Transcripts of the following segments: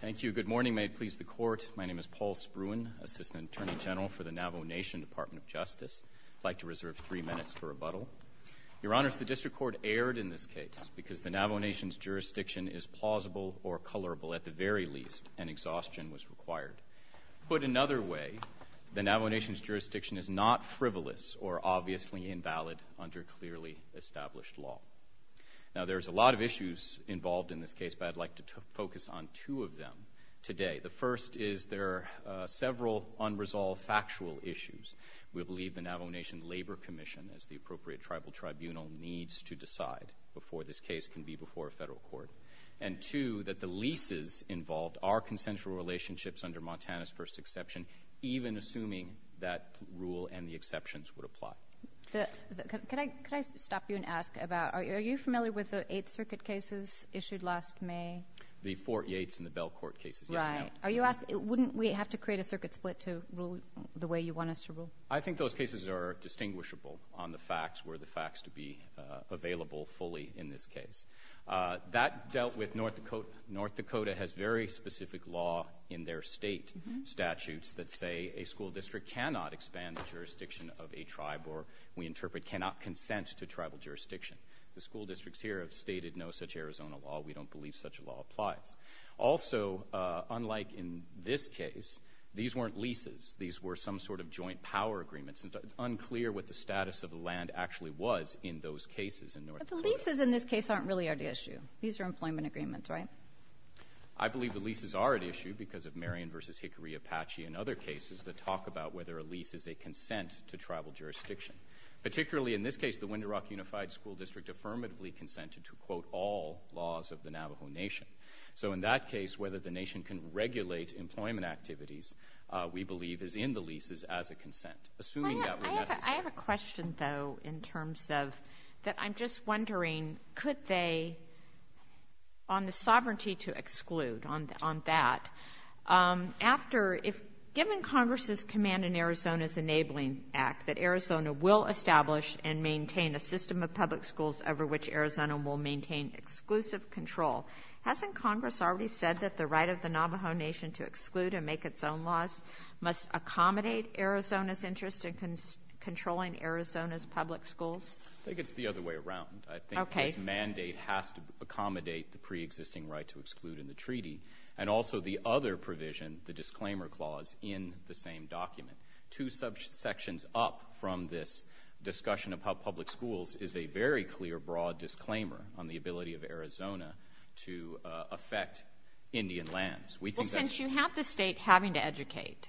Thank you. Good morning. May it please the Court. My name is Paul Spruan, Assistant Attorney General for the Navajo Nation Department of Justice. I'd like to reserve three minutes for rebuttal. Your Honors, the District Court erred in this case because the Navajo Nation's jurisdiction is plausible or colorable, at the very least, and exhaustion was required. Put another way, the Navajo Nation's jurisdiction is not frivolous or obviously invalid under clearly established law. Now, there's a lot of issues involved in this case, but I'd like to focus on two of them today. The first is there are several unresolved factual issues. We believe the Navajo Nation Labor Commission, as the appropriate tribal tribunal, needs to decide before this case can be before a federal court. And two, that the leases involved are consensual relationships under Montana's first exception, even assuming that rule and the exceptions would apply. Could I stop you and ask about, are you familiar with the Eighth Circuit cases issued last May? The Fort Yates and the Belcourt cases, yes ma'am. Right. Are you asking, wouldn't we have to create a circuit split to rule the way you want us to rule? I think those cases are distinguishable on the facts, were the facts to be available fully in this case. That dealt with North Dakota. North Dakota has very specific law in their state statutes that say a school district cannot expand the jurisdiction of a tribe or, we interpret, cannot consent to tribal jurisdiction. The school districts here have stated no such Arizona law. We don't believe such a law applies. Also, unlike in this case, these weren't leases. These were some sort of joint power agreements. It's unclear what the status of the land actually was in those cases in North Dakota. But the leases in this case aren't really at issue. These are employment agreements, right? I believe the leases are at issue because of Marion v. Hickory Apache and other cases that talk about whether a lease is a consent to tribal jurisdiction. Particularly in this case, the Windrock Unified School District affirmatively consented to, quote, all laws of the Navajo Nation. So in that case, whether the nation can regulate employment activities, we believe, is in the leases as a consent, assuming that were necessary. I have a question, though, in terms of, that I'm just wondering, could they, on the sovereignty to exclude, on that, after, if, given Congress's command in Arizona's Enabling Act that Arizona will establish and maintain a system of public schools over which Arizona will maintain exclusive control, hasn't Congress already said that the right of the Navajo Nation to exclude and make its own laws must accommodate Arizona's interest in controlling Arizona's public schools? I think it's the other way around. I think this mandate has to accommodate the preexisting right to exclude in the treaty, and also the other provision, the disclaimer clause, in the same document. Two subsections up from this discussion of how public schools is a very clear, broad disclaimer on the ability of Arizona to affect Indian lands. We think that's... Well, since you have the State having to educate,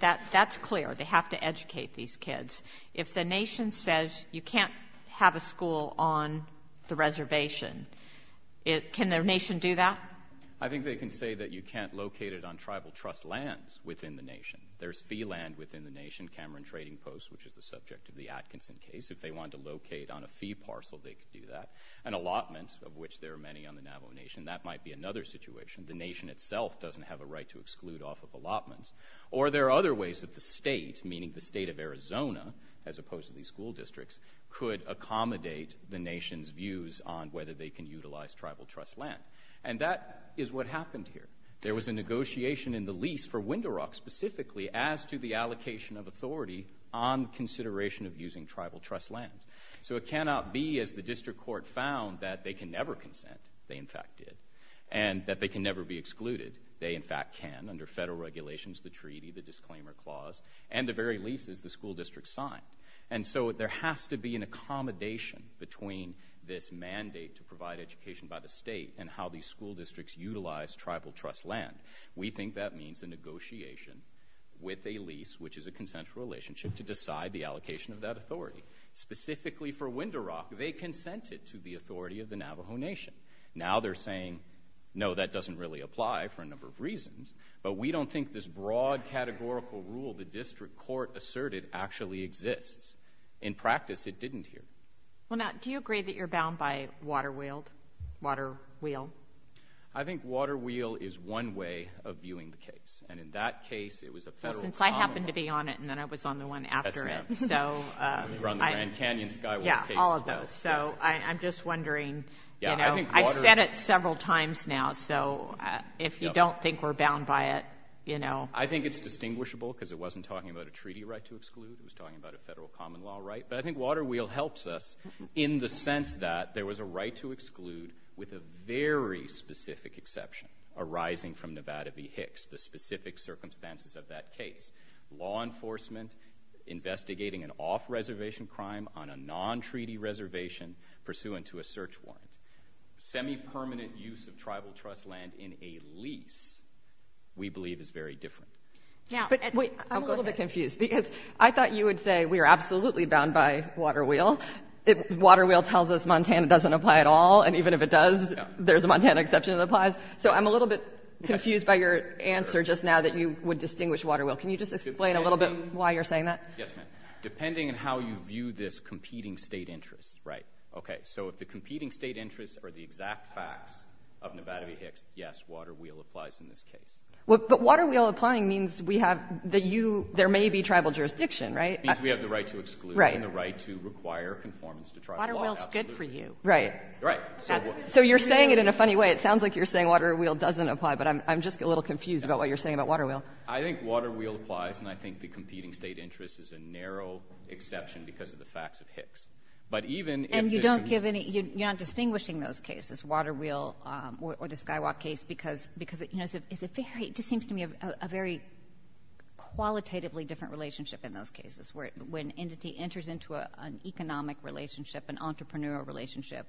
that's clear. They have to educate these kids. If the nation says you can't have a school on the reservation, can the nation do that? I think they can say that you can't locate it on tribal trust lands within the nation. There's fee land within the nation, Cameron Trading Post, which is the subject of the Atkinson case. If they wanted to locate on a fee parcel, they could do that. An allotment, of which there are many on the Navajo Nation, that might be another situation. The nation itself doesn't have a right to exclude off of allotments. Or there are other ways that the state, meaning the state of Arizona, as opposed to these school districts, could accommodate the nation's views on whether they can utilize tribal trust land. And that is what happened here. There was a negotiation in the lease for Winderock, specifically, as to the allocation of authority on consideration of using tribal trust lands. So it cannot be, as the district court found, that they can never consent. They, in fact, did. And that they can never be excluded. They, in fact, can, under federal regulations, the treaty, the disclaimer clause, and the very lease, as the school district signed. And so there has to be an accommodation between this mandate to provide education by the state and how these school districts utilize tribal trust land. We think that means a negotiation with a lease, which is a consensual relationship, to decide the allocation of that authority. Specifically for Winderock, they consented to the authority of the Navajo Nation. Now they're saying, no, that doesn't really apply for a number of reasons. But we don't think this broad categorical rule the district court asserted actually exists. In practice, it didn't here. Well, now, do you agree that you're bound by Waterwheel? I think Waterwheel is one way of viewing the case. And in that case, it was a federal common law. Well, since I happened to be on it, and then I was on the one after it. Yes, ma'am. You were on the Grand Canyon Skyward case as well. Yeah, all of those. So I'm just wondering, you know, I've said it several times now. So if you don't think we're bound by it, you know. I think it's distinguishable because it wasn't talking about a treaty right to exclude. It was talking about a federal common law right. But I think Waterwheel helps us in the sense that there was a right to exclude with a very specific exception arising from Nevada v. Hicks, the specific circumstances of that case. Law enforcement investigating an off-reservation crime on a non-treaty reservation pursuant to a search warrant. Semi-permanent use of tribal trust land in a lease, we believe, is very different. But wait, I'm a little bit confused. Because I thought you would say we are absolutely bound by Waterwheel. Waterwheel tells us Montana doesn't apply at all. And even if it does, there's a Montana exception that applies. So I'm a little bit confused by your answer just now that you would distinguish Waterwheel. Can you just explain a little bit why you're saying that? Yes, ma'am. Depending on how you view this competing state interest, right. Okay. So if the competing state interests are the exact facts of Nevada v. Hicks, yes, Waterwheel applies in this case. But Waterwheel applying means we have the you, there may be tribal jurisdiction, right? It means we have the right to exclude and the right to require conformance to tribal law. Waterwheel is good for you. Right. Right. So you're saying it in a funny way. It sounds like you're saying Waterwheel doesn't apply, but I'm just a little confused about what you're saying about Waterwheel. I think Waterwheel applies, and I think the competing state interest is a narrow exception because of the facts of Hicks. And you're not distinguishing those cases, Waterwheel or the Skywalk case, because it just seems to me a very qualitatively different relationship in those cases when an entity enters into an economic relationship, an entrepreneurial relationship.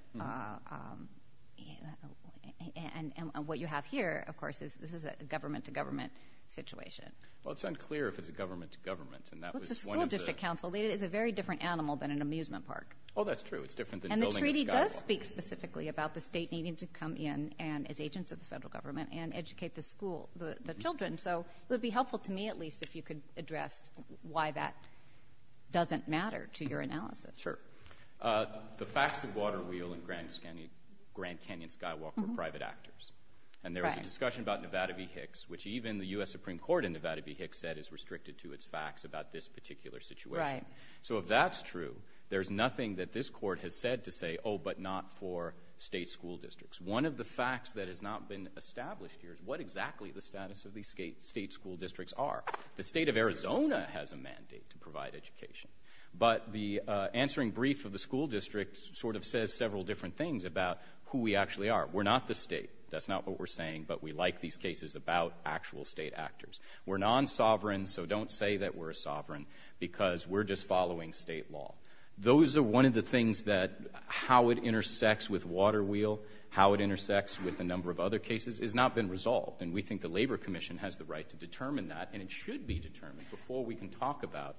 And what you have here, of course, is this is a government-to-government situation. Well, it's unclear if it's a government-to-government. Well, it's a school district council. It is a very different animal than an amusement park. Oh, that's true. It's different than building a Skywalk. And the treaty does speak specifically about the state needing to come in as agents of the federal government and educate the children. So it would be helpful to me at least if you could address why that doesn't matter to your analysis. Sure. The facts of Waterwheel and Grand Canyon Skywalk were private actors. And there was a discussion about Nevada v. Hicks, which even the U.S. Supreme Court in Nevada v. Hicks said is restricted to its facts about this particular situation. Right. So if that's true, there's nothing that this court has said to say, oh, but not for state school districts. One of the facts that has not been established here is what exactly the status of these state school districts are. The state of Arizona has a mandate to provide education, but the answering brief of the school district sort of says several different things about who we actually are. We're not the state. That's not what we're saying, but we like these cases about actual state actors. We're non-sovereign, so don't say that we're a sovereign because we're just following state law. Those are one of the things that how it intersects with Waterwheel, how it intersects with a number of other cases has not been resolved. And we think the Labor Commission has the right to determine that, and it should be determined before we can talk about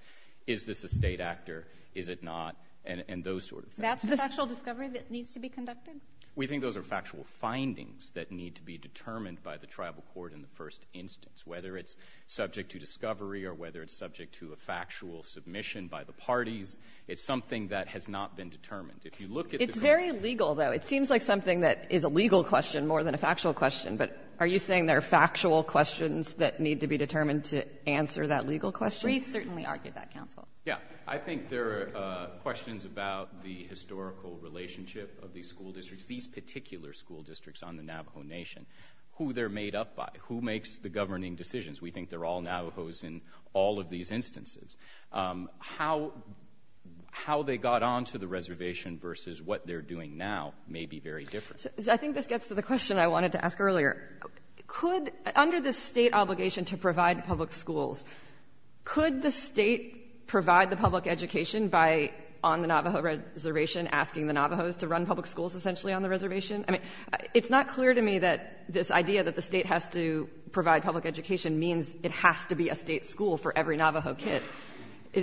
is this a state actor, is it not, and those sort of things. That's the factual discovery that needs to be conducted? We think those are factual findings that need to be determined by the tribal court in the first instance, whether it's subject to discovery or whether it's subject to a factual submission by the parties. It's something that has not been determined. If you look at the court ---- It's very legal, though. It seems like something that is a legal question more than a factual question, but are you saying there are factual questions that need to be determined to answer that legal question? We've certainly argued that, counsel. Yeah. I think there are questions about the historical relationship of these school districts, these particular school districts on the Navajo Nation, who they're made up by, who makes the governing decisions. We think they're all Navajos in all of these instances. How they got onto the reservation versus what they're doing now may be very different. I think this gets to the question I wanted to ask earlier. Could under the State obligation to provide public schools, could the State provide the public education by on the Navajo reservation asking the Navajos to run public schools essentially on the reservation? I mean, it's not clear to me that this idea that the State has to provide public education means it has to be a State school for every Navajo kid.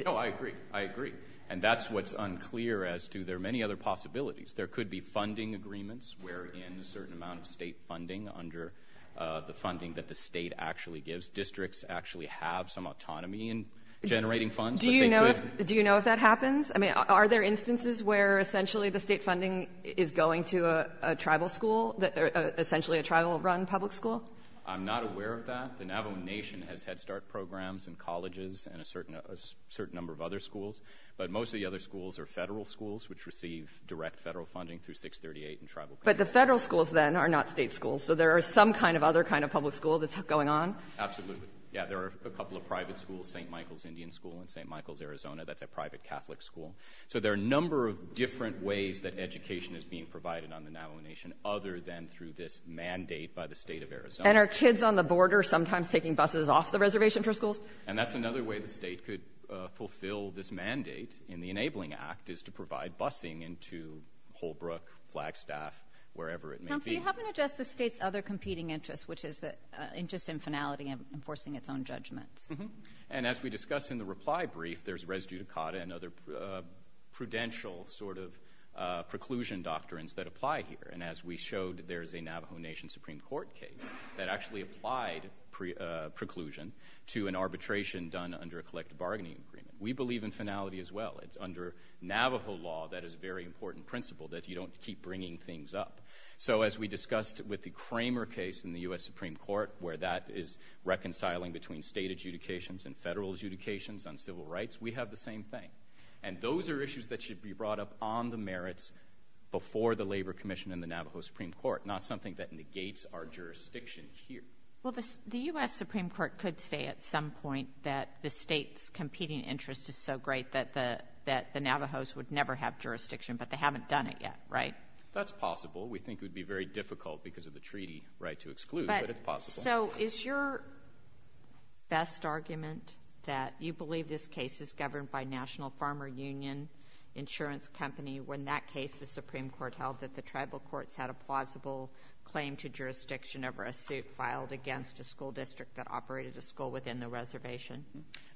No, I agree. I agree. And that's what's unclear as to there are many other possibilities. There could be funding agreements wherein a certain amount of State funding under the funding that the State actually gives. Districts actually have some autonomy in generating funds. Do you know if that happens? I mean, are there instances where essentially the State funding is going to a tribal school, essentially a tribal-run public school? I'm not aware of that. The Navajo Nation has Head Start programs in colleges and a certain number of other schools, but most of the other schools are Federal schools which receive direct Federal funding through 638 and tribal. But the Federal schools then are not State schools, so there are some kind of other kind of public school that's going on? Absolutely. Yeah, there are a couple of private schools, St. Michael's Indian School in St. Michael's, Arizona. That's a private Catholic school. So there are a number of different ways that education is being provided on the Navajo Nation other than through this mandate by the State of Arizona. And are kids on the border sometimes taking buses off the reservation for schools? And that's another way the State could fulfill this mandate in the Enabling Act is to provide busing into Holbrook, Flagstaff, wherever it may be. Counsel, you haven't addressed the State's other competing interests, which is the interest in finality and enforcing its own judgments. And as we discussed in the reply brief, there's res judicata and other prudential sort of preclusion doctrines that apply here. And as we showed, there's a Navajo Nation Supreme Court case that actually applied preclusion to an arbitration done under a collective bargaining agreement. We believe in finality as well. It's under Navajo law that is a very important principle that you don't keep bringing things up. So as we discussed with the Kramer case in the U.S. Supreme Court where that is reconciling between state adjudications and federal adjudications on civil rights, we have the same thing. And those are issues that should be brought up on the merits before the Labor Commission and the Navajo Supreme Court, not something that negates our jurisdiction here. Well, the U.S. Supreme Court could say at some point that the State's competing interest is so great that the Navajos would never have jurisdiction, but they haven't done it yet, right? That's possible. We think it would be very difficult because of the treaty right to exclude, but it's possible. So is your best argument that you believe this case is governed by National Farmer Union Insurance Company when that case the Supreme Court held that the tribal courts had a plausible claim to jurisdiction over a suit filed against a school district that operated a school within the reservation?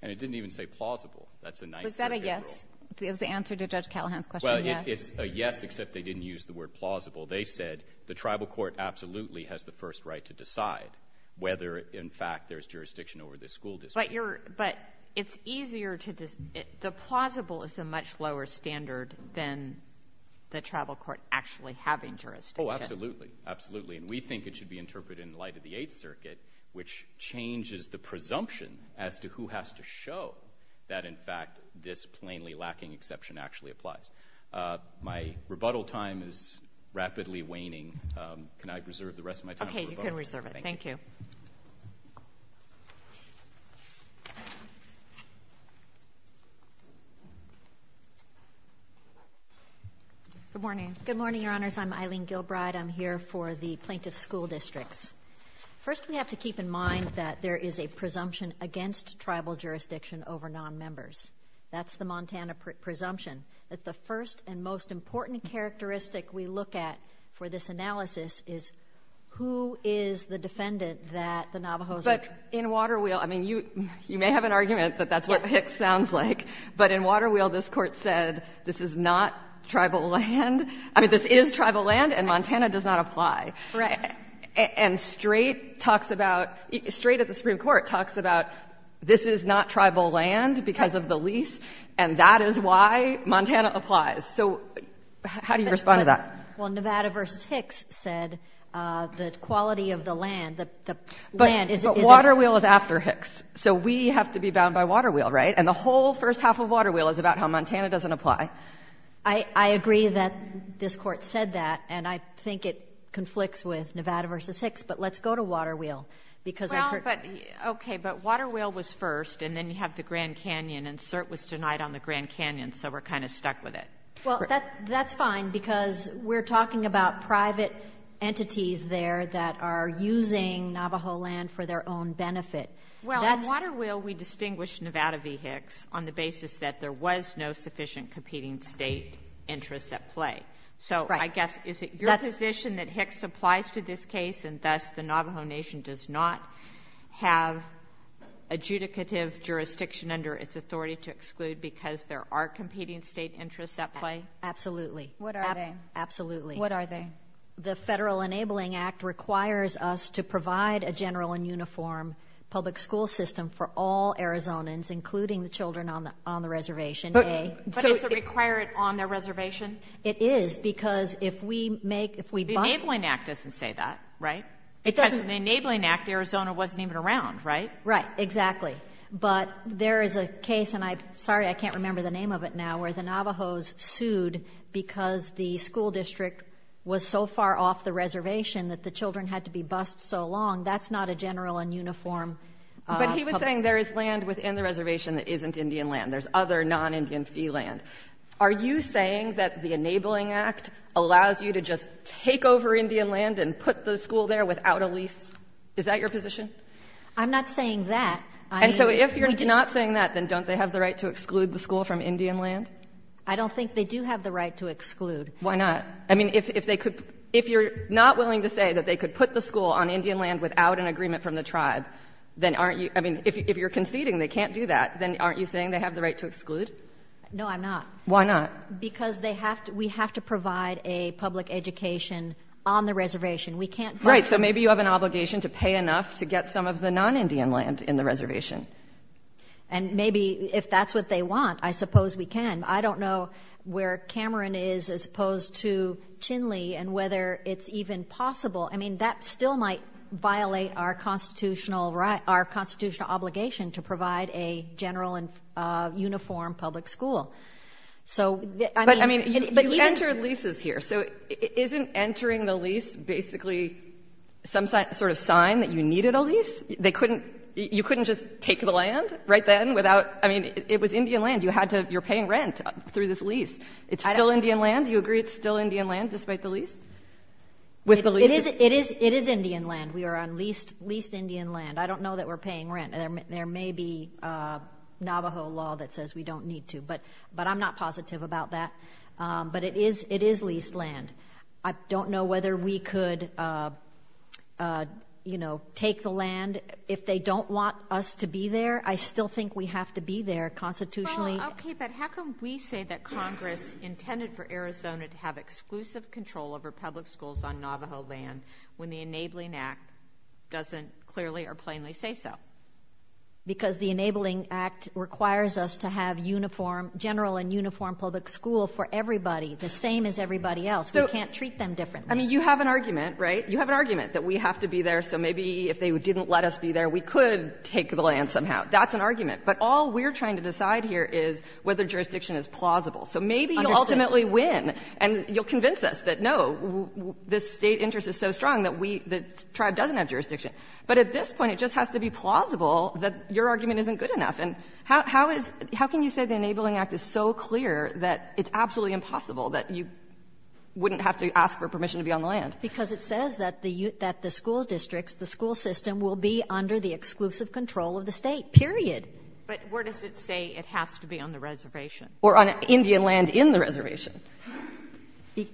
And it didn't even say plausible. Was that a yes? It was the answer to Judge Callahan's question, yes. Well, it's a yes, except they didn't use the word plausible. They said the tribal court absolutely has the first right to decide whether, in fact, there's jurisdiction over this school district. But it's easier to—the plausible is a much lower standard than the tribal court actually having jurisdiction. Oh, absolutely. Absolutely. And we think it should be interpreted in light of the Eighth Circuit, which changes the presumption as to who has to show that, in fact, this plainly lacking exception actually applies. My rebuttal time is rapidly waning. Can I reserve the rest of my time for rebuttals? Okay. You can reserve it. Thank you. Good morning. Good morning, Your Honors. I'm Eileen Gilbride. I'm here for the plaintiff's school districts. First, we have to keep in mind that there is a presumption against tribal jurisdiction over nonmembers. That's the Montana presumption. The first and most important characteristic we look at for this analysis is who is the defendant that the Navajos are— But in Waterwheel, I mean, you may have an argument that that's what Hicks sounds like, but in Waterwheel, this Court said this is not tribal land. I mean, this is tribal land, and Montana does not apply. Right. And Straight talks about — Straight at the Supreme Court talks about this is not tribal land because of the lease, and that is why Montana applies. So how do you respond to that? Well, Nevada v. Hicks said the quality of the land, the land is— But Waterwheel is after Hicks. So we have to be bound by Waterwheel, right? And the whole first half of Waterwheel is about how Montana doesn't apply. I agree that this Court said that, and I think it conflicts with Nevada v. Hicks, but let's go to Waterwheel, because I heard— Well, but — okay. But Waterwheel was first, and then you have the Grand Canyon, and Cert was denied on the Grand Canyon, so we're kind of stuck with it. Well, that's fine, because we're talking about private entities there that are using Navajo land for their own benefit. Well, in Waterwheel, we distinguish Nevada v. Hicks on the basis that there was no sufficient competing state interests at play. So I guess, is it your position that Hicks applies to this case, and thus the Navajo Nation does not have adjudicative jurisdiction under its authority to exclude because there are competing state interests at play? Absolutely. What are they? Absolutely. What are they? The Federal Enabling Act requires us to provide a general and uniform public school system for all Arizonans, including the children on the reservation. But does it require it on their reservation? It is, because if we make— The Enabling Act doesn't say that, right? It doesn't. Because in the Enabling Act, Arizona wasn't even around, right? Right. Exactly. But there is a case, and I'm sorry I can't remember the name of it now, where the Navajos sued because the school district was so far off the reservation that the children had to be bused so long. That's not a general and uniform— But he was saying there is land within the reservation that isn't Indian land. There's other non-Indian fee land. Are you saying that the Enabling Act allows you to just take over Indian land and put the school there without a lease? Is that your position? I'm not saying that. And so if you're not saying that, then don't they have the right to exclude the school from Indian land? I don't think they do have the right to exclude. Why not? I mean, if they could—if you're not willing to say that they could put the school on Indian land without an agreement from the tribe, then aren't you—I mean, if you're conceding they can't do that, then aren't you saying they have the right to exclude? No, I'm not. Why not? Because they have to—we have to provide a public education on the reservation. We can't— Right. So maybe you have an obligation to pay enough to get some of the non-Indian land in the reservation. And maybe if that's what they want, I suppose we can. I don't know where Cameron is as opposed to Tinley and whether it's even possible. I mean, that still might violate our constitutional—our constitutional obligation to provide a general and uniform public school. So, I mean— But, I mean, you enter leases here. So isn't entering the lease basically some sort of sign that you needed a lease? They couldn't—you couldn't just take the land right then without—I mean, it was Indian land. You had to—you're paying rent through this lease. It's still Indian land. Do you agree it's still Indian land despite the lease? It is Indian land. We are on leased Indian land. I don't know that we're paying rent. There may be Navajo law that says we don't need to. But I'm not positive about that. But it is leased land. I don't know whether we could, you know, take the land if they don't want us to be there. I still think we have to be there constitutionally. Well, okay, but how can we say that Congress intended for Arizona to have exclusive control over public schools on Navajo land when the Enabling Act doesn't clearly or plainly say so? Because the Enabling Act requires us to have uniform—general and uniform public school for everybody, the same as everybody else. We can't treat them differently. I mean, you have an argument, right? You have an argument that we have to be there, so maybe if they didn't let us be there, we could take the land somehow. That's an argument. But all we're trying to decide here is whether jurisdiction is plausible. So maybe you'll ultimately win. And you'll convince us that, no, this State interest is so strong that we — the tribe doesn't have jurisdiction. But at this point, it just has to be plausible that your argument isn't good enough. And how is — how can you say the Enabling Act is so clear that it's absolutely impossible, that you wouldn't have to ask for permission to be on the land? Because it says that the — that the school districts, the school system will be under the exclusive control of the State, period. But where does it say it has to be? On the reservation. Or on Indian land in the reservation.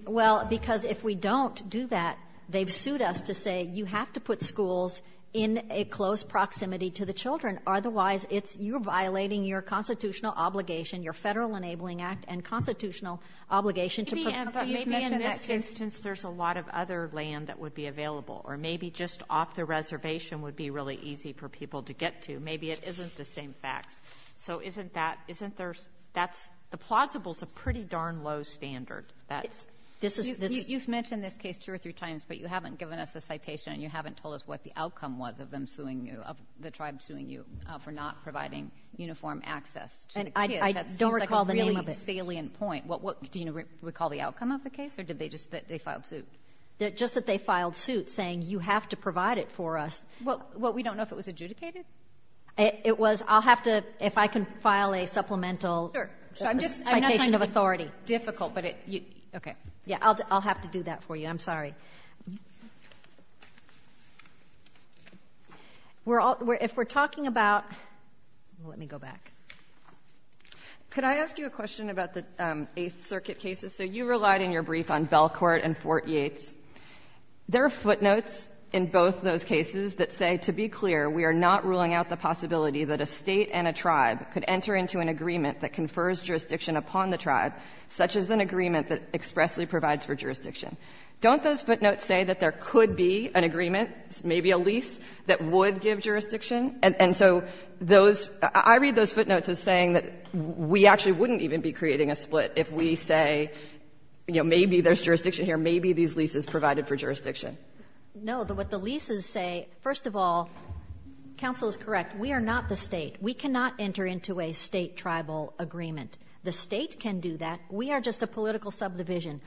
Well, because if we don't do that, they've sued us to say you have to put schools in a close proximity to the children. Otherwise, it's — you're violating your constitutional obligation, your Federal Enabling Act and constitutional obligation to — But maybe in this instance, there's a lot of other land that would be available. Or maybe just off the reservation would be really easy for people to get to. Maybe it isn't the same facts. So isn't that — isn't there — that's — the plausible is a pretty darn low standard. That's — You've mentioned this case two or three times, but you haven't given us a citation and you haven't told us what the outcome was of them suing you, of the tribe suing you for not providing uniform access to the kids. I don't recall the name of it. That seems like a really salient point. Do you recall the outcome of the case or did they just — they filed suit? Just that they filed suit saying you have to provide it for us. Well, we don't know if it was adjudicated? It was — I'll have to — if I can file a supplemental — Sure. So I'm just — Citation of authority. I'm not trying to be difficult, but it — okay. Yeah, I'll have to do that for you. I'm sorry. We're all — if we're talking about — let me go back. Could I ask you a question about the Eighth Circuit cases? So you relied in your brief on Belcourt and Fort Yates. There are footnotes in both those cases that say, to be clear, we are not ruling out the possibility that a state and a tribe could enter into an agreement that confers jurisdiction upon the tribe, such as an agreement that expressly provides for jurisdiction. Don't those footnotes say that there could be an agreement, maybe a lease, that would give jurisdiction? And so those — I read those footnotes as saying that we actually wouldn't even be creating a split if we say, you know, maybe there's jurisdiction here, maybe these leases provided for jurisdiction. No. What the leases say — first of all, counsel is correct. We are not the state. We cannot enter into a state-tribal agreement. The state can do that. We are just a political subdivision.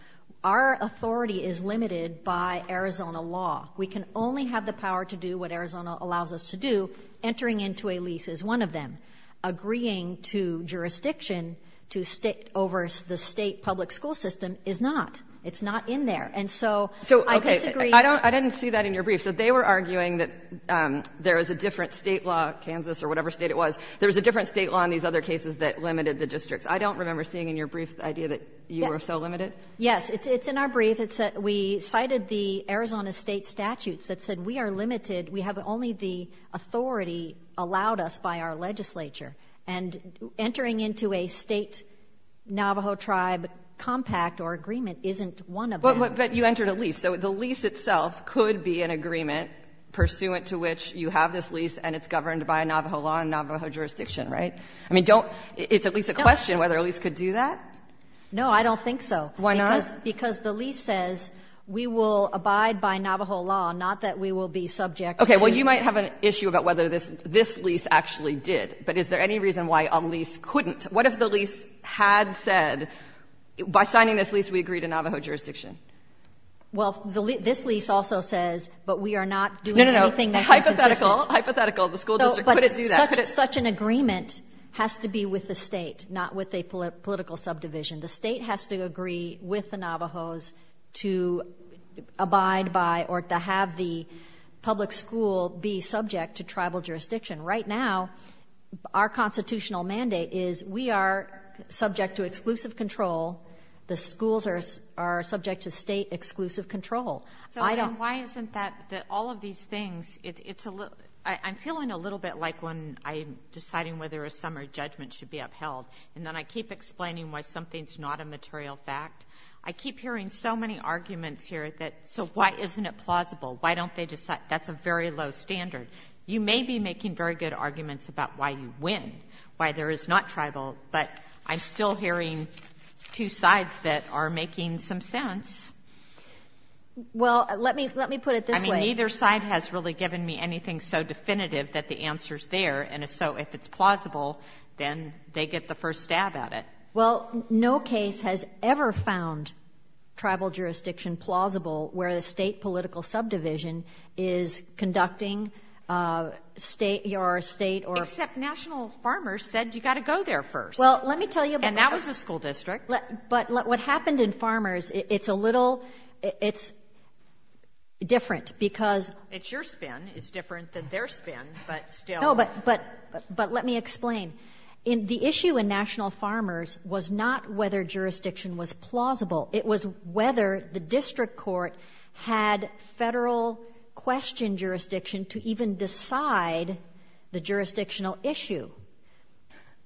Our authority is limited by Arizona law. We can only have the power to do what Arizona allows us to do. Entering into a lease is one of them. Agreeing to jurisdiction to state over the state public school system is not. It's not in there. And so I disagree. So, okay. I didn't see that in your brief. So they were arguing that there is a different state law, Kansas or whatever state it was, there was a different state law in these other cases that limited the districts. I don't remember seeing in your brief the idea that you were so limited. Yes. It's in our brief. We cited the Arizona state statutes that said we are limited, we have only the authority allowed us by our legislature. And entering into a state Navajo tribe compact or agreement isn't one of them. But you entered a lease. So the lease itself could be an agreement pursuant to which you have this lease and it's governed by Navajo law and Navajo jurisdiction, right? I mean, don't — it's at least a question whether a lease could do that. No, I don't think so. Why not? Because the lease says we will abide by Navajo law, not that we will be subject to — Okay. Well, you might have an issue about whether this lease actually did. But is there any reason why a lease couldn't? What if the lease had said, by signing this lease, we agree to Navajo jurisdiction? Well, this lease also says, but we are not doing anything that's inconsistent. No, no, no. Hypothetical, hypothetical. The school district couldn't do that. But such an agreement has to be with the State, not with a political subdivision. The State has to agree with the Navajos to abide by or to have the public school be subject to tribal jurisdiction. Right now, our constitutional mandate is we are subject to exclusive control. The schools are subject to State exclusive control. So then why isn't that — all of these things, it's a little — I'm feeling a little bit like when I'm deciding whether a summer judgment should be upheld, and then I keep explaining why something is not a material fact, I keep hearing so many arguments here that, so why isn't it plausible? Why don't they decide? That's a very low standard. You may be making very good arguments about why you win, why there is not tribal, but I'm still hearing two sides that are making some sense. Well, let me put it this way. I mean, neither side has really given me anything so definitive that the answer is there. And so if it's plausible, then they get the first stab at it. Well, no case has ever found tribal jurisdiction plausible where the State political subdivision is conducting State or State or — Except National Farmers said you've got to go there first. Well, let me tell you about — And that was a school district. But what happened in Farmers, it's a little — it's different because — It's different than their spin, but still — No, but let me explain. The issue in National Farmers was not whether jurisdiction was plausible. It was whether the district court had federal question jurisdiction to even decide the jurisdictional issue.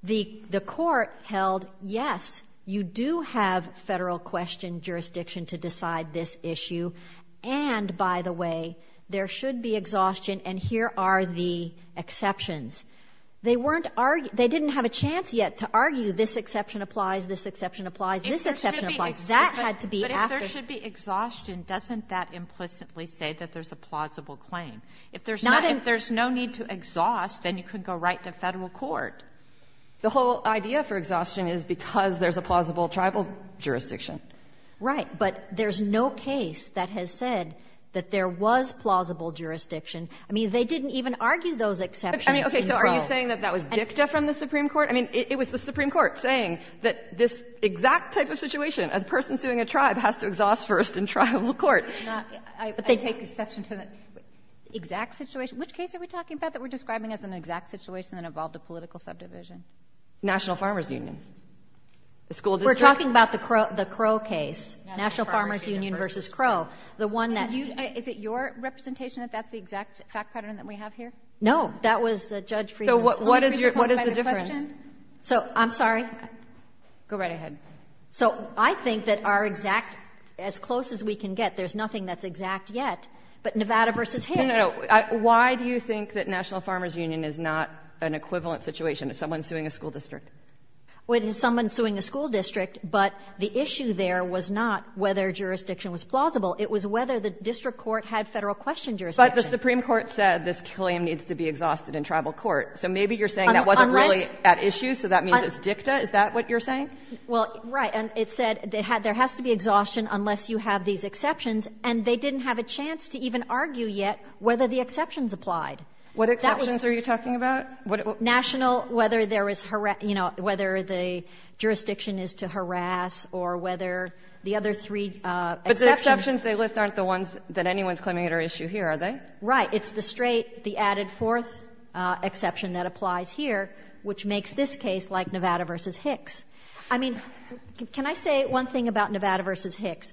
The court held, yes, you do have federal question jurisdiction to decide this issue, and by the way, there should be exhaustion, and here are the exceptions. They weren't — they didn't have a chance yet to argue this exception applies, this exception applies, this exception applies. That had to be after — But if there should be exhaustion, doesn't that implicitly say that there's a plausible claim? Not in — If there's no need to exhaust, then you can go right to federal court. The whole idea for exhaustion is because there's a plausible tribal jurisdiction. Right. But there's no case that has said that there was plausible jurisdiction. I mean, they didn't even argue those exceptions in Crow. I mean, okay, so are you saying that that was dicta from the Supreme Court? I mean, it was the Supreme Court saying that this exact type of situation, as a person suing a tribe, has to exhaust first in tribal court. Not — I take exception to the exact situation. Which case are we talking about that we're describing as an exact situation that involved a political subdivision? National Farmers Union. The school district — We're talking about the Crow case. National Farmers Union v. Crow. The one that — Is it your representation that that's the exact fact pattern that we have here? No. That was Judge Friedman's — So what is the difference? So, I'm sorry. Go right ahead. So I think that our exact — as close as we can get, there's nothing that's exact yet. But Nevada v. Hicks — No, no, no. Why do you think that National Farmers Union is not an equivalent situation if someone's suing a school district? It is someone suing a school district, but the issue there was not whether jurisdiction was plausible. It was whether the district court had Federal question jurisdiction. But the Supreme Court said this killing needs to be exhausted in tribal court. So maybe you're saying that wasn't really at issue, so that means it's dicta? Is that what you're saying? Well, right. And it said there has to be exhaustion unless you have these exceptions. And they didn't have a chance to even argue yet whether the exceptions applied. What exceptions are you talking about? National, whether there is — you know, whether the jurisdiction is to harass or whether the other three exceptions — But the exceptions they list aren't the ones that anyone's claiming are at issue here, are they? Right. It's the straight, the added fourth exception that applies here, which makes this case like Nevada v. Hicks. I mean, can I say one thing about Nevada v. Hicks?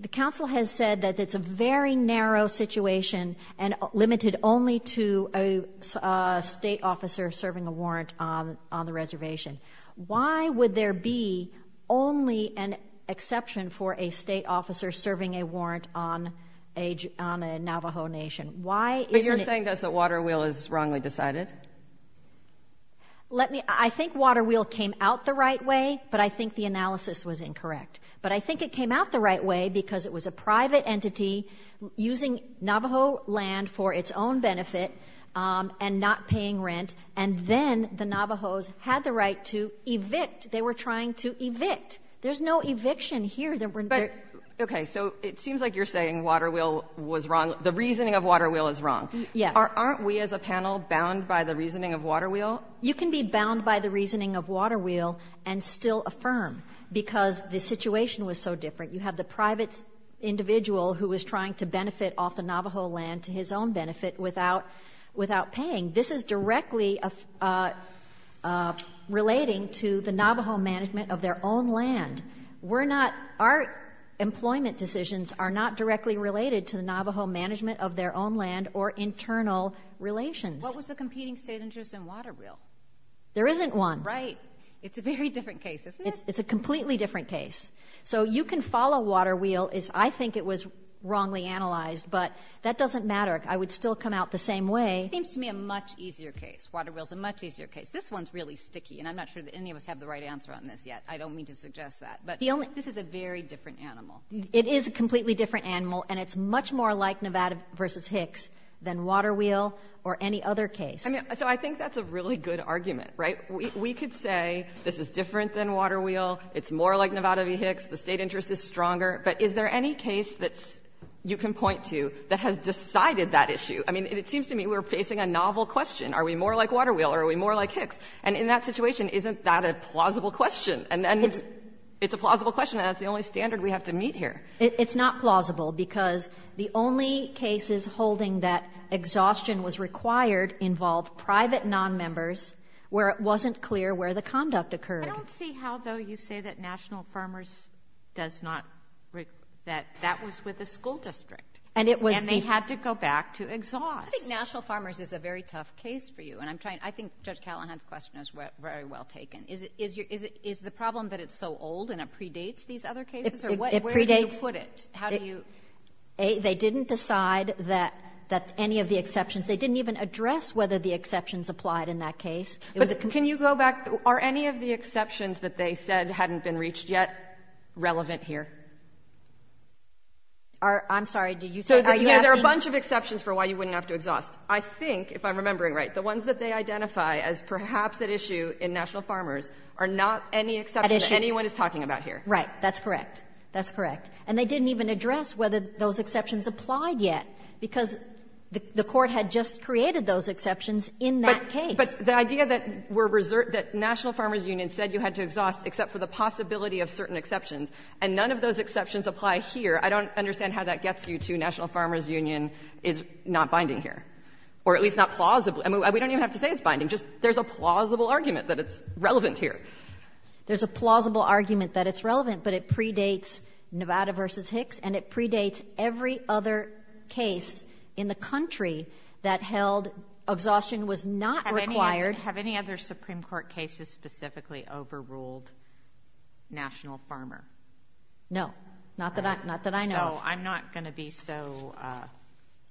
The council has said that it's a very narrow situation and limited only to a state officer serving a warrant on the reservation. Why would there be only an exception for a state officer serving a warrant on a Navajo nation? Why isn't it — But you're saying, thus, that Waterwheel is wrongly decided? Let me — I think Waterwheel came out the right way, but I think the analysis was incorrect. But I think it came out the right way because it was a private entity using Navajo land for its own benefit and not paying rent, and then the Navajos had the right to evict. They were trying to evict. There's no eviction here. Okay. So it seems like you're saying Waterwheel was wrong — the reasoning of Waterwheel is wrong. Yeah. Aren't we as a panel bound by the reasoning of Waterwheel? You can be bound by the reasoning of Waterwheel and still affirm because the situation was so different. You have the private individual who was trying to benefit off the Navajo land to his own benefit without paying. This is directly relating to the Navajo management of their own land. We're not — our employment decisions are not directly related to the Navajo management of their own land or internal relations. What was the competing state interest in Waterwheel? There isn't one. Right. It's a very different case, isn't it? It's a completely different case. So you can follow Waterwheel as I think it was wrongly analyzed, but that doesn't matter. I would still come out the same way. It seems to me a much easier case. Waterwheel's a much easier case. This one's really sticky, and I'm not sure that any of us have the right answer on this yet. I don't mean to suggest that, but this is a very different animal. It is a completely different animal, and it's much more like Nevada versus Hicks than Waterwheel or any other case. So I think that's a really good argument, right? We could say this is different than Waterwheel, it's more like Nevada v. Hicks, the state interest is stronger. But is there any case that you can point to that has decided that issue? I mean, it seems to me we're facing a novel question. Are we more like Waterwheel or are we more like Hicks? And in that situation, isn't that a plausible question? And then it's a plausible question, and that's the only standard we have to meet here. It's not plausible because the only cases holding that exhaustion was required involved private nonmembers where it wasn't clear where the conduct occurred. I don't see how, though, you say that National Farmers does not, that that was with the school district. And they had to go back to exhaust. I think National Farmers is a very tough case for you, and I think Judge Callahan's question is very well taken. Is the problem that it's so old and it predates these other cases? Where do you put it? They didn't decide that any of the exceptions, they didn't even address whether the exceptions applied in that case. Can you go back? Are any of the exceptions that they said hadn't been reached yet relevant here? I'm sorry, are you asking? There are a bunch of exceptions for why you wouldn't have to exhaust. I think, if I'm remembering right, the ones that they identify as perhaps at issue in National Farmers are not any exceptions anyone is talking about here. Right, that's correct. That's correct. And they didn't even address whether those exceptions applied yet, because the Court had just created those exceptions in that case. But the idea that were reserved, that National Farmers Union said you had to exhaust except for the possibility of certain exceptions, and none of those exceptions apply here, I don't understand how that gets you to National Farmers Union is not binding here, or at least not plausible. I mean, we don't even have to say it's binding. Just there's a plausible argument that it's relevant here. There's a plausible argument that it's relevant, but it predates Nevada v. Hicks, and it predates every other case in the country that held exhaustion was not required. Have any other Supreme Court cases specifically overruled National Farmers? No, not that I know of. So I'm not going to be so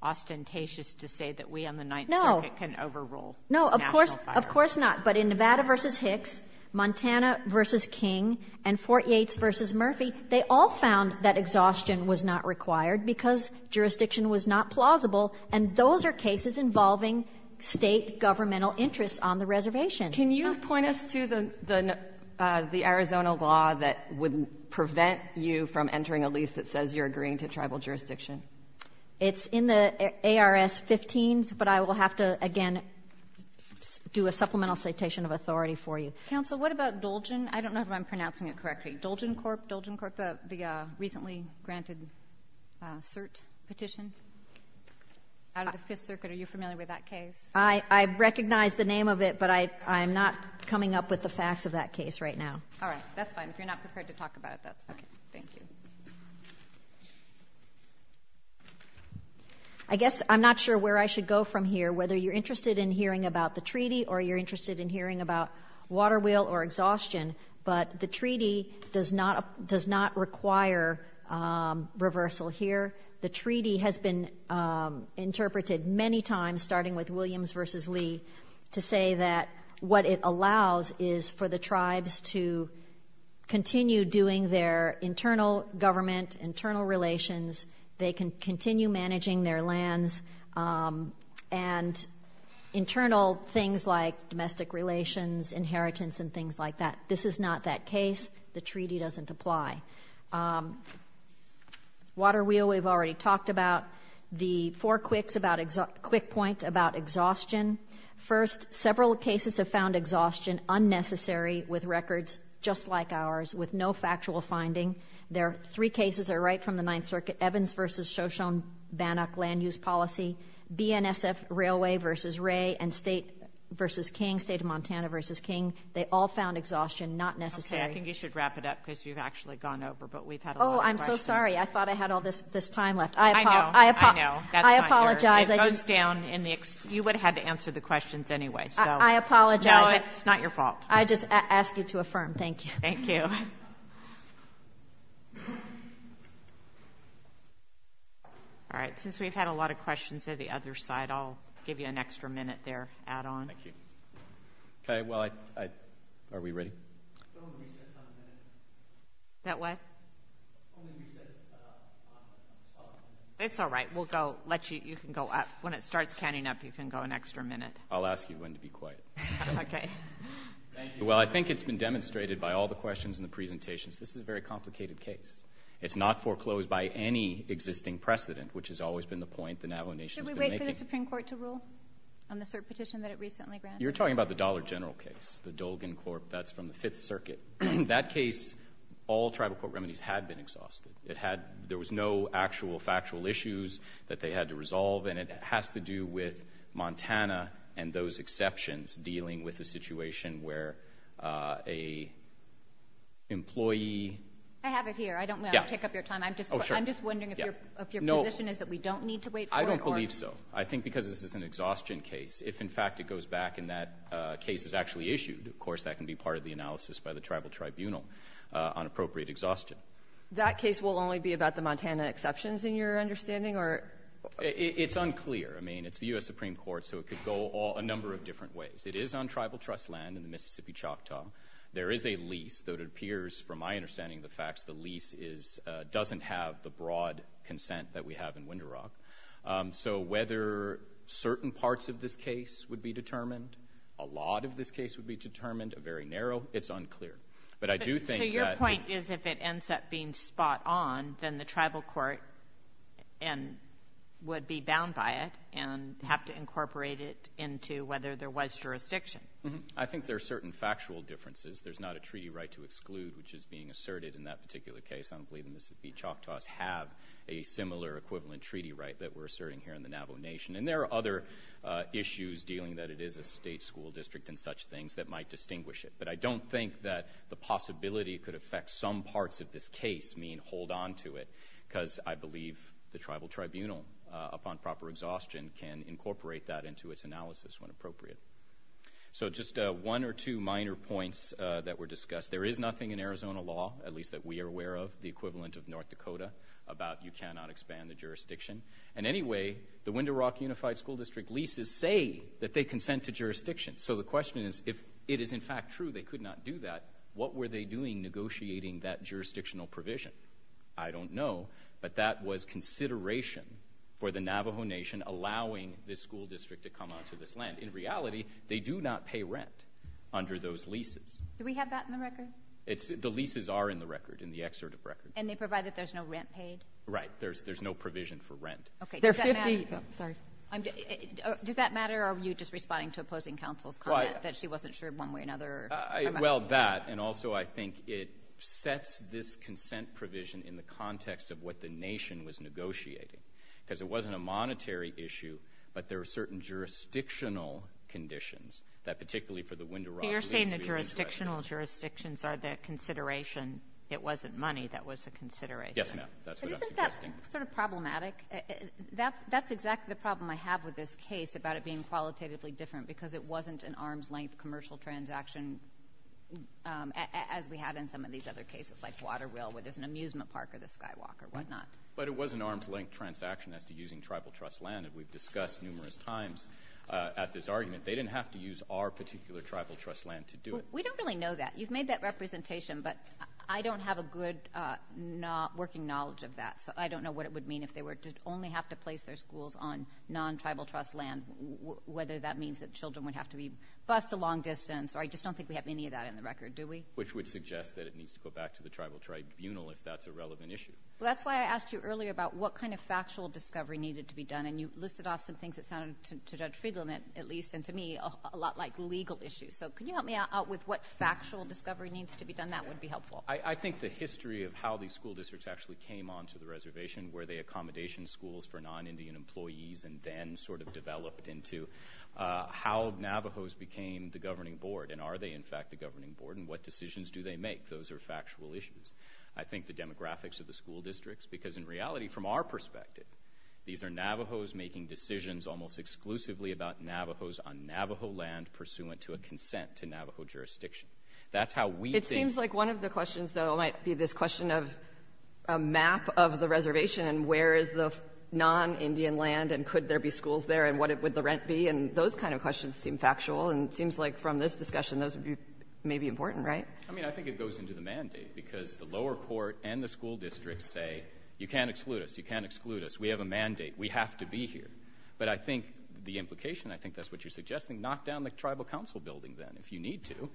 ostentatious to say that we on the Ninth Circuit can overrule National Farmers. No, of course not. But in Nevada v. Hicks, Montana v. King, and Fort Yates v. Murphy, they all found that exhaustion was not required because jurisdiction was not plausible, and those are cases involving State governmental interests on the reservation. Can you point us to the Arizona law that would prevent you from entering a lease that says you're agreeing to tribal jurisdiction? It's in the ARS 15, but I will have to, again, do a supplemental citation of authority for you. Counsel, what about Dolgen? I don't know if I'm pronouncing it correctly. Dolgen Corp, Dolgen Corp, the recently granted cert petition out of the Fifth Circuit. Are you familiar with that case? I recognize the name of it, but I'm not coming up with the facts of that case right now. All right. That's fine. If you're not prepared to talk about it, that's fine. Thank you. I guess I'm not sure where I should go from here, whether you're interested in hearing about the treaty or you're interested in hearing about water wheel or exhaustion, but the treaty does not require reversal here. The treaty has been interpreted many times, starting with Williams v. Lee, to say that what it allows is for the tribes to continue doing their internal government, internal relations, they can continue managing their lands, and internal things like domestic relations, inheritance, and things like that. This is not that case. The treaty doesn't apply. Water wheel we've already talked about. The four quick points about exhaustion. First, several cases have found exhaustion unnecessary with records just like ours, with no factual finding. Three cases are right from the Ninth Circuit. Evans v. Shoshone-Bannock land use policy, BNSF Railway v. Ray, and State v. King, State of Montana v. King. They all found exhaustion not necessary. Okay. I think you should wrap it up because you've actually gone over, but we've had a lot of questions. Oh, I'm so sorry. I thought I had all this time left. I know. I know. That's not fair. I apologize. It goes down. You would have had to answer the questions anyway. I apologize. No, it's not your fault. I just ask you to affirm. Thank you. Thank you. All right. Since we've had a lot of questions at the other side, I'll give you an extra minute there to add on. Thank you. Okay. Well, are we ready? That what? It's all right. We'll go. You can go up. When it starts counting up, you can go an extra minute. I'll ask you when to be quiet. Okay. Thank you. Well, I think it's been demonstrated by all the questions and the presentations. This is a very complicated case. It's not foreclosed by any existing precedent, which has always been the point the Navajo Nation has been making. Should we wait for the Supreme Court to rule on the cert petition that it recently granted? You're talking about the Dollar General case, the Dolgan court. That's from the Fifth Circuit. That case, all tribal court remedies had been exhausted. There was no actual factual issues that they had to resolve, and it has to do with Montana and those exceptions dealing with the employee. I have it here. I don't want to take up your time. I'm just wondering if your position is that we don't need to wait for it. I don't believe so. I think because this is an exhaustion case. If, in fact, it goes back and that case is actually issued, of course, that can be part of the analysis by the tribal tribunal on appropriate exhaustion. That case will only be about the Montana exceptions, in your understanding? It's unclear. I mean, it's the U.S. Supreme Court, so it could go a number of different ways. It is on tribal trust land in the Mississippi Choctaw. There is a lease that appears, from my understanding of the facts, the lease doesn't have the broad consent that we have in Winder Rock. So whether certain parts of this case would be determined, a lot of this case would be determined, a very narrow, it's unclear. So your point is if it ends up being spot on, then the tribal court would be bound by it and have to incorporate it into whether there was jurisdiction I think there are certain factual differences. There's not a treaty right to exclude, which is being asserted in that particular case. I don't believe the Mississippi Choctaws have a similar equivalent treaty right that we're asserting here in the Navajo Nation. And there are other issues dealing that it is a state school district and such things that might distinguish it. But I don't think that the possibility it could affect some parts of this case mean hold on to it, because I believe the tribal tribunal, upon proper exhaustion, can incorporate that into its analysis when appropriate. So just one or two minor points that were discussed. There is nothing in Arizona law, at least that we are aware of, the equivalent of North Dakota, about you cannot expand the jurisdiction. And anyway, the Winder Rock Unified School District leases say that they consent to jurisdiction. So the question is if it is in fact true they could not do that, what were they doing negotiating that jurisdictional provision? But that was consideration for the Navajo Nation allowing this school district. In reality, they do not pay rent under those leases. Do we have that in the record? The leases are in the record, in the excerpt of record. And they provide that there's no rent paid? Right. There's no provision for rent. Okay. Does that matter? Sorry. Does that matter or are you just responding to opposing counsel's comment that she wasn't sure one way or another? Well, that and also I think it sets this consent provision in the context of what the nation was negotiating, because it wasn't a monetary issue, but there are certain jurisdictional conditions that particularly for the Winder Rock Lease. You're saying the jurisdictional jurisdictions are the consideration. It wasn't money that was a consideration. Yes, ma'am. That's what I'm suggesting. Isn't that sort of problematic? That's exactly the problem I have with this case about it being qualitatively different because it wasn't an arm's length commercial transaction as we had in some of these other cases like Waterville where there's an amusement park or the Skywalk or whatnot. But it was an arm's length transaction as to using tribal trust land, and we've discussed numerous times at this argument. They didn't have to use our particular tribal trust land to do it. We don't really know that. You've made that representation, but I don't have a good working knowledge of that, so I don't know what it would mean if they were to only have to place their schools on non-tribal trust land, whether that means that children would have to be bused a long distance. I just don't think we have any of that in the record, do we? Which would suggest that it needs to go back to the tribal tribunal if that's a relevant issue. Well, that's why I asked you earlier about what kind of factual discovery needed to be done, and you listed off some things that sounded, to Judge Friedland, at least, and to me, a lot like legal issues. So can you help me out with what factual discovery needs to be done? That would be helpful. I think the history of how these school districts actually came onto the reservation where they accommodation schools for non-Indian employees and then sort of developed into how Navajos became the governing board and are they, in fact, the governing board and what decisions do they make. Those are factual issues. I think the demographics of the school districts because, in reality, from our perspective, these are Navajos making decisions almost exclusively about Navajos on Navajo land pursuant to a consent to Navajo jurisdiction. That's how we think. It seems like one of the questions, though, might be this question of a map of the reservation and where is the non-Indian land and could there be schools there and what would the rent be, and those kind of questions seem factual and it seems like from this discussion those may be important, right? I mean, I think it goes into the mandate because the lower court and the You can't exclude us. We have a mandate. We have to be here. But I think the implication, I think that's what you're suggesting, knock down the tribal council building then if you need to.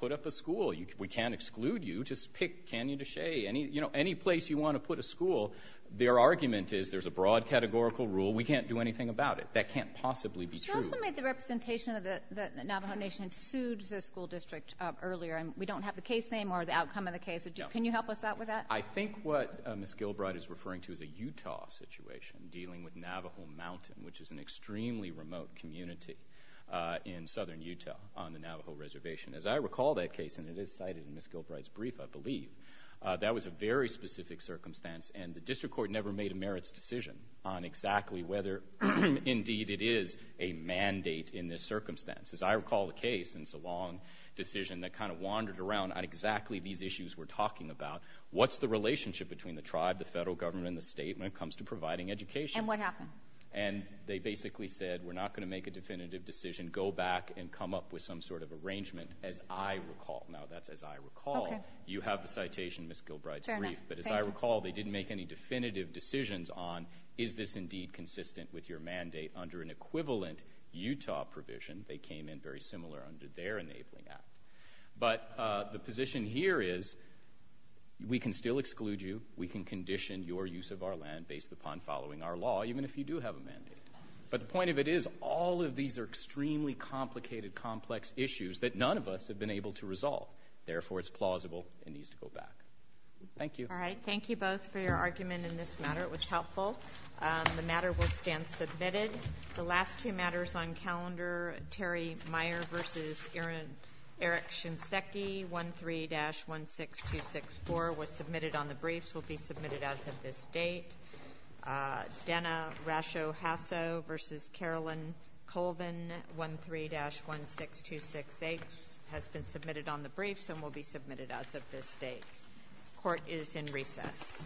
Put up a school. We can't exclude you. Just pick Canyon to Shea, any place you want to put a school. Their argument is there's a broad categorical rule. We can't do anything about it. That can't possibly be true. You also made the representation that the Navajo Nation sued the school district earlier and we don't have the case name or the outcome of the case. Can you help us out with that? I think what Ms. Gilbride is referring to is a Utah situation dealing with Navajo Mountain, which is an extremely remote community in southern Utah on the Navajo Reservation. As I recall that case, and it is cited in Ms. Gilbride's brief, I believe, that was a very specific circumstance and the district court never made a merits decision on exactly whether indeed it is a mandate in this circumstance. As I recall the case, it's a long decision that kind of wandered around on exactly these issues we're talking about. What's the relationship between the tribe, the federal government, and the state when it comes to providing education? And what happened? They basically said we're not going to make a definitive decision. Go back and come up with some sort of arrangement, as I recall. Now, that's as I recall. You have the citation in Ms. Gilbride's brief. But as I recall, they didn't make any definitive decisions on is this indeed consistent with your mandate under an equivalent Utah provision. They came in very similar under their enabling act. But the position here is we can still exclude you. We can condition your use of our land based upon following our law, even if you do have a mandate. But the point of it is all of these are extremely complicated, complex issues that none of us have been able to resolve. Therefore, it's plausible and needs to go back. Thank you. All right, thank you both for your argument in this matter. It was helpful. The matter will stand submitted. The last two matters on calendar, Terry Meyer v. Eric Shinseki, 13-16264 was submitted on the briefs, will be submitted as of this date. Denna Rasho Hasso v. Carolyn Colvin, 13-16268 has been submitted on the briefs and will be submitted as of this date. Court is in recess.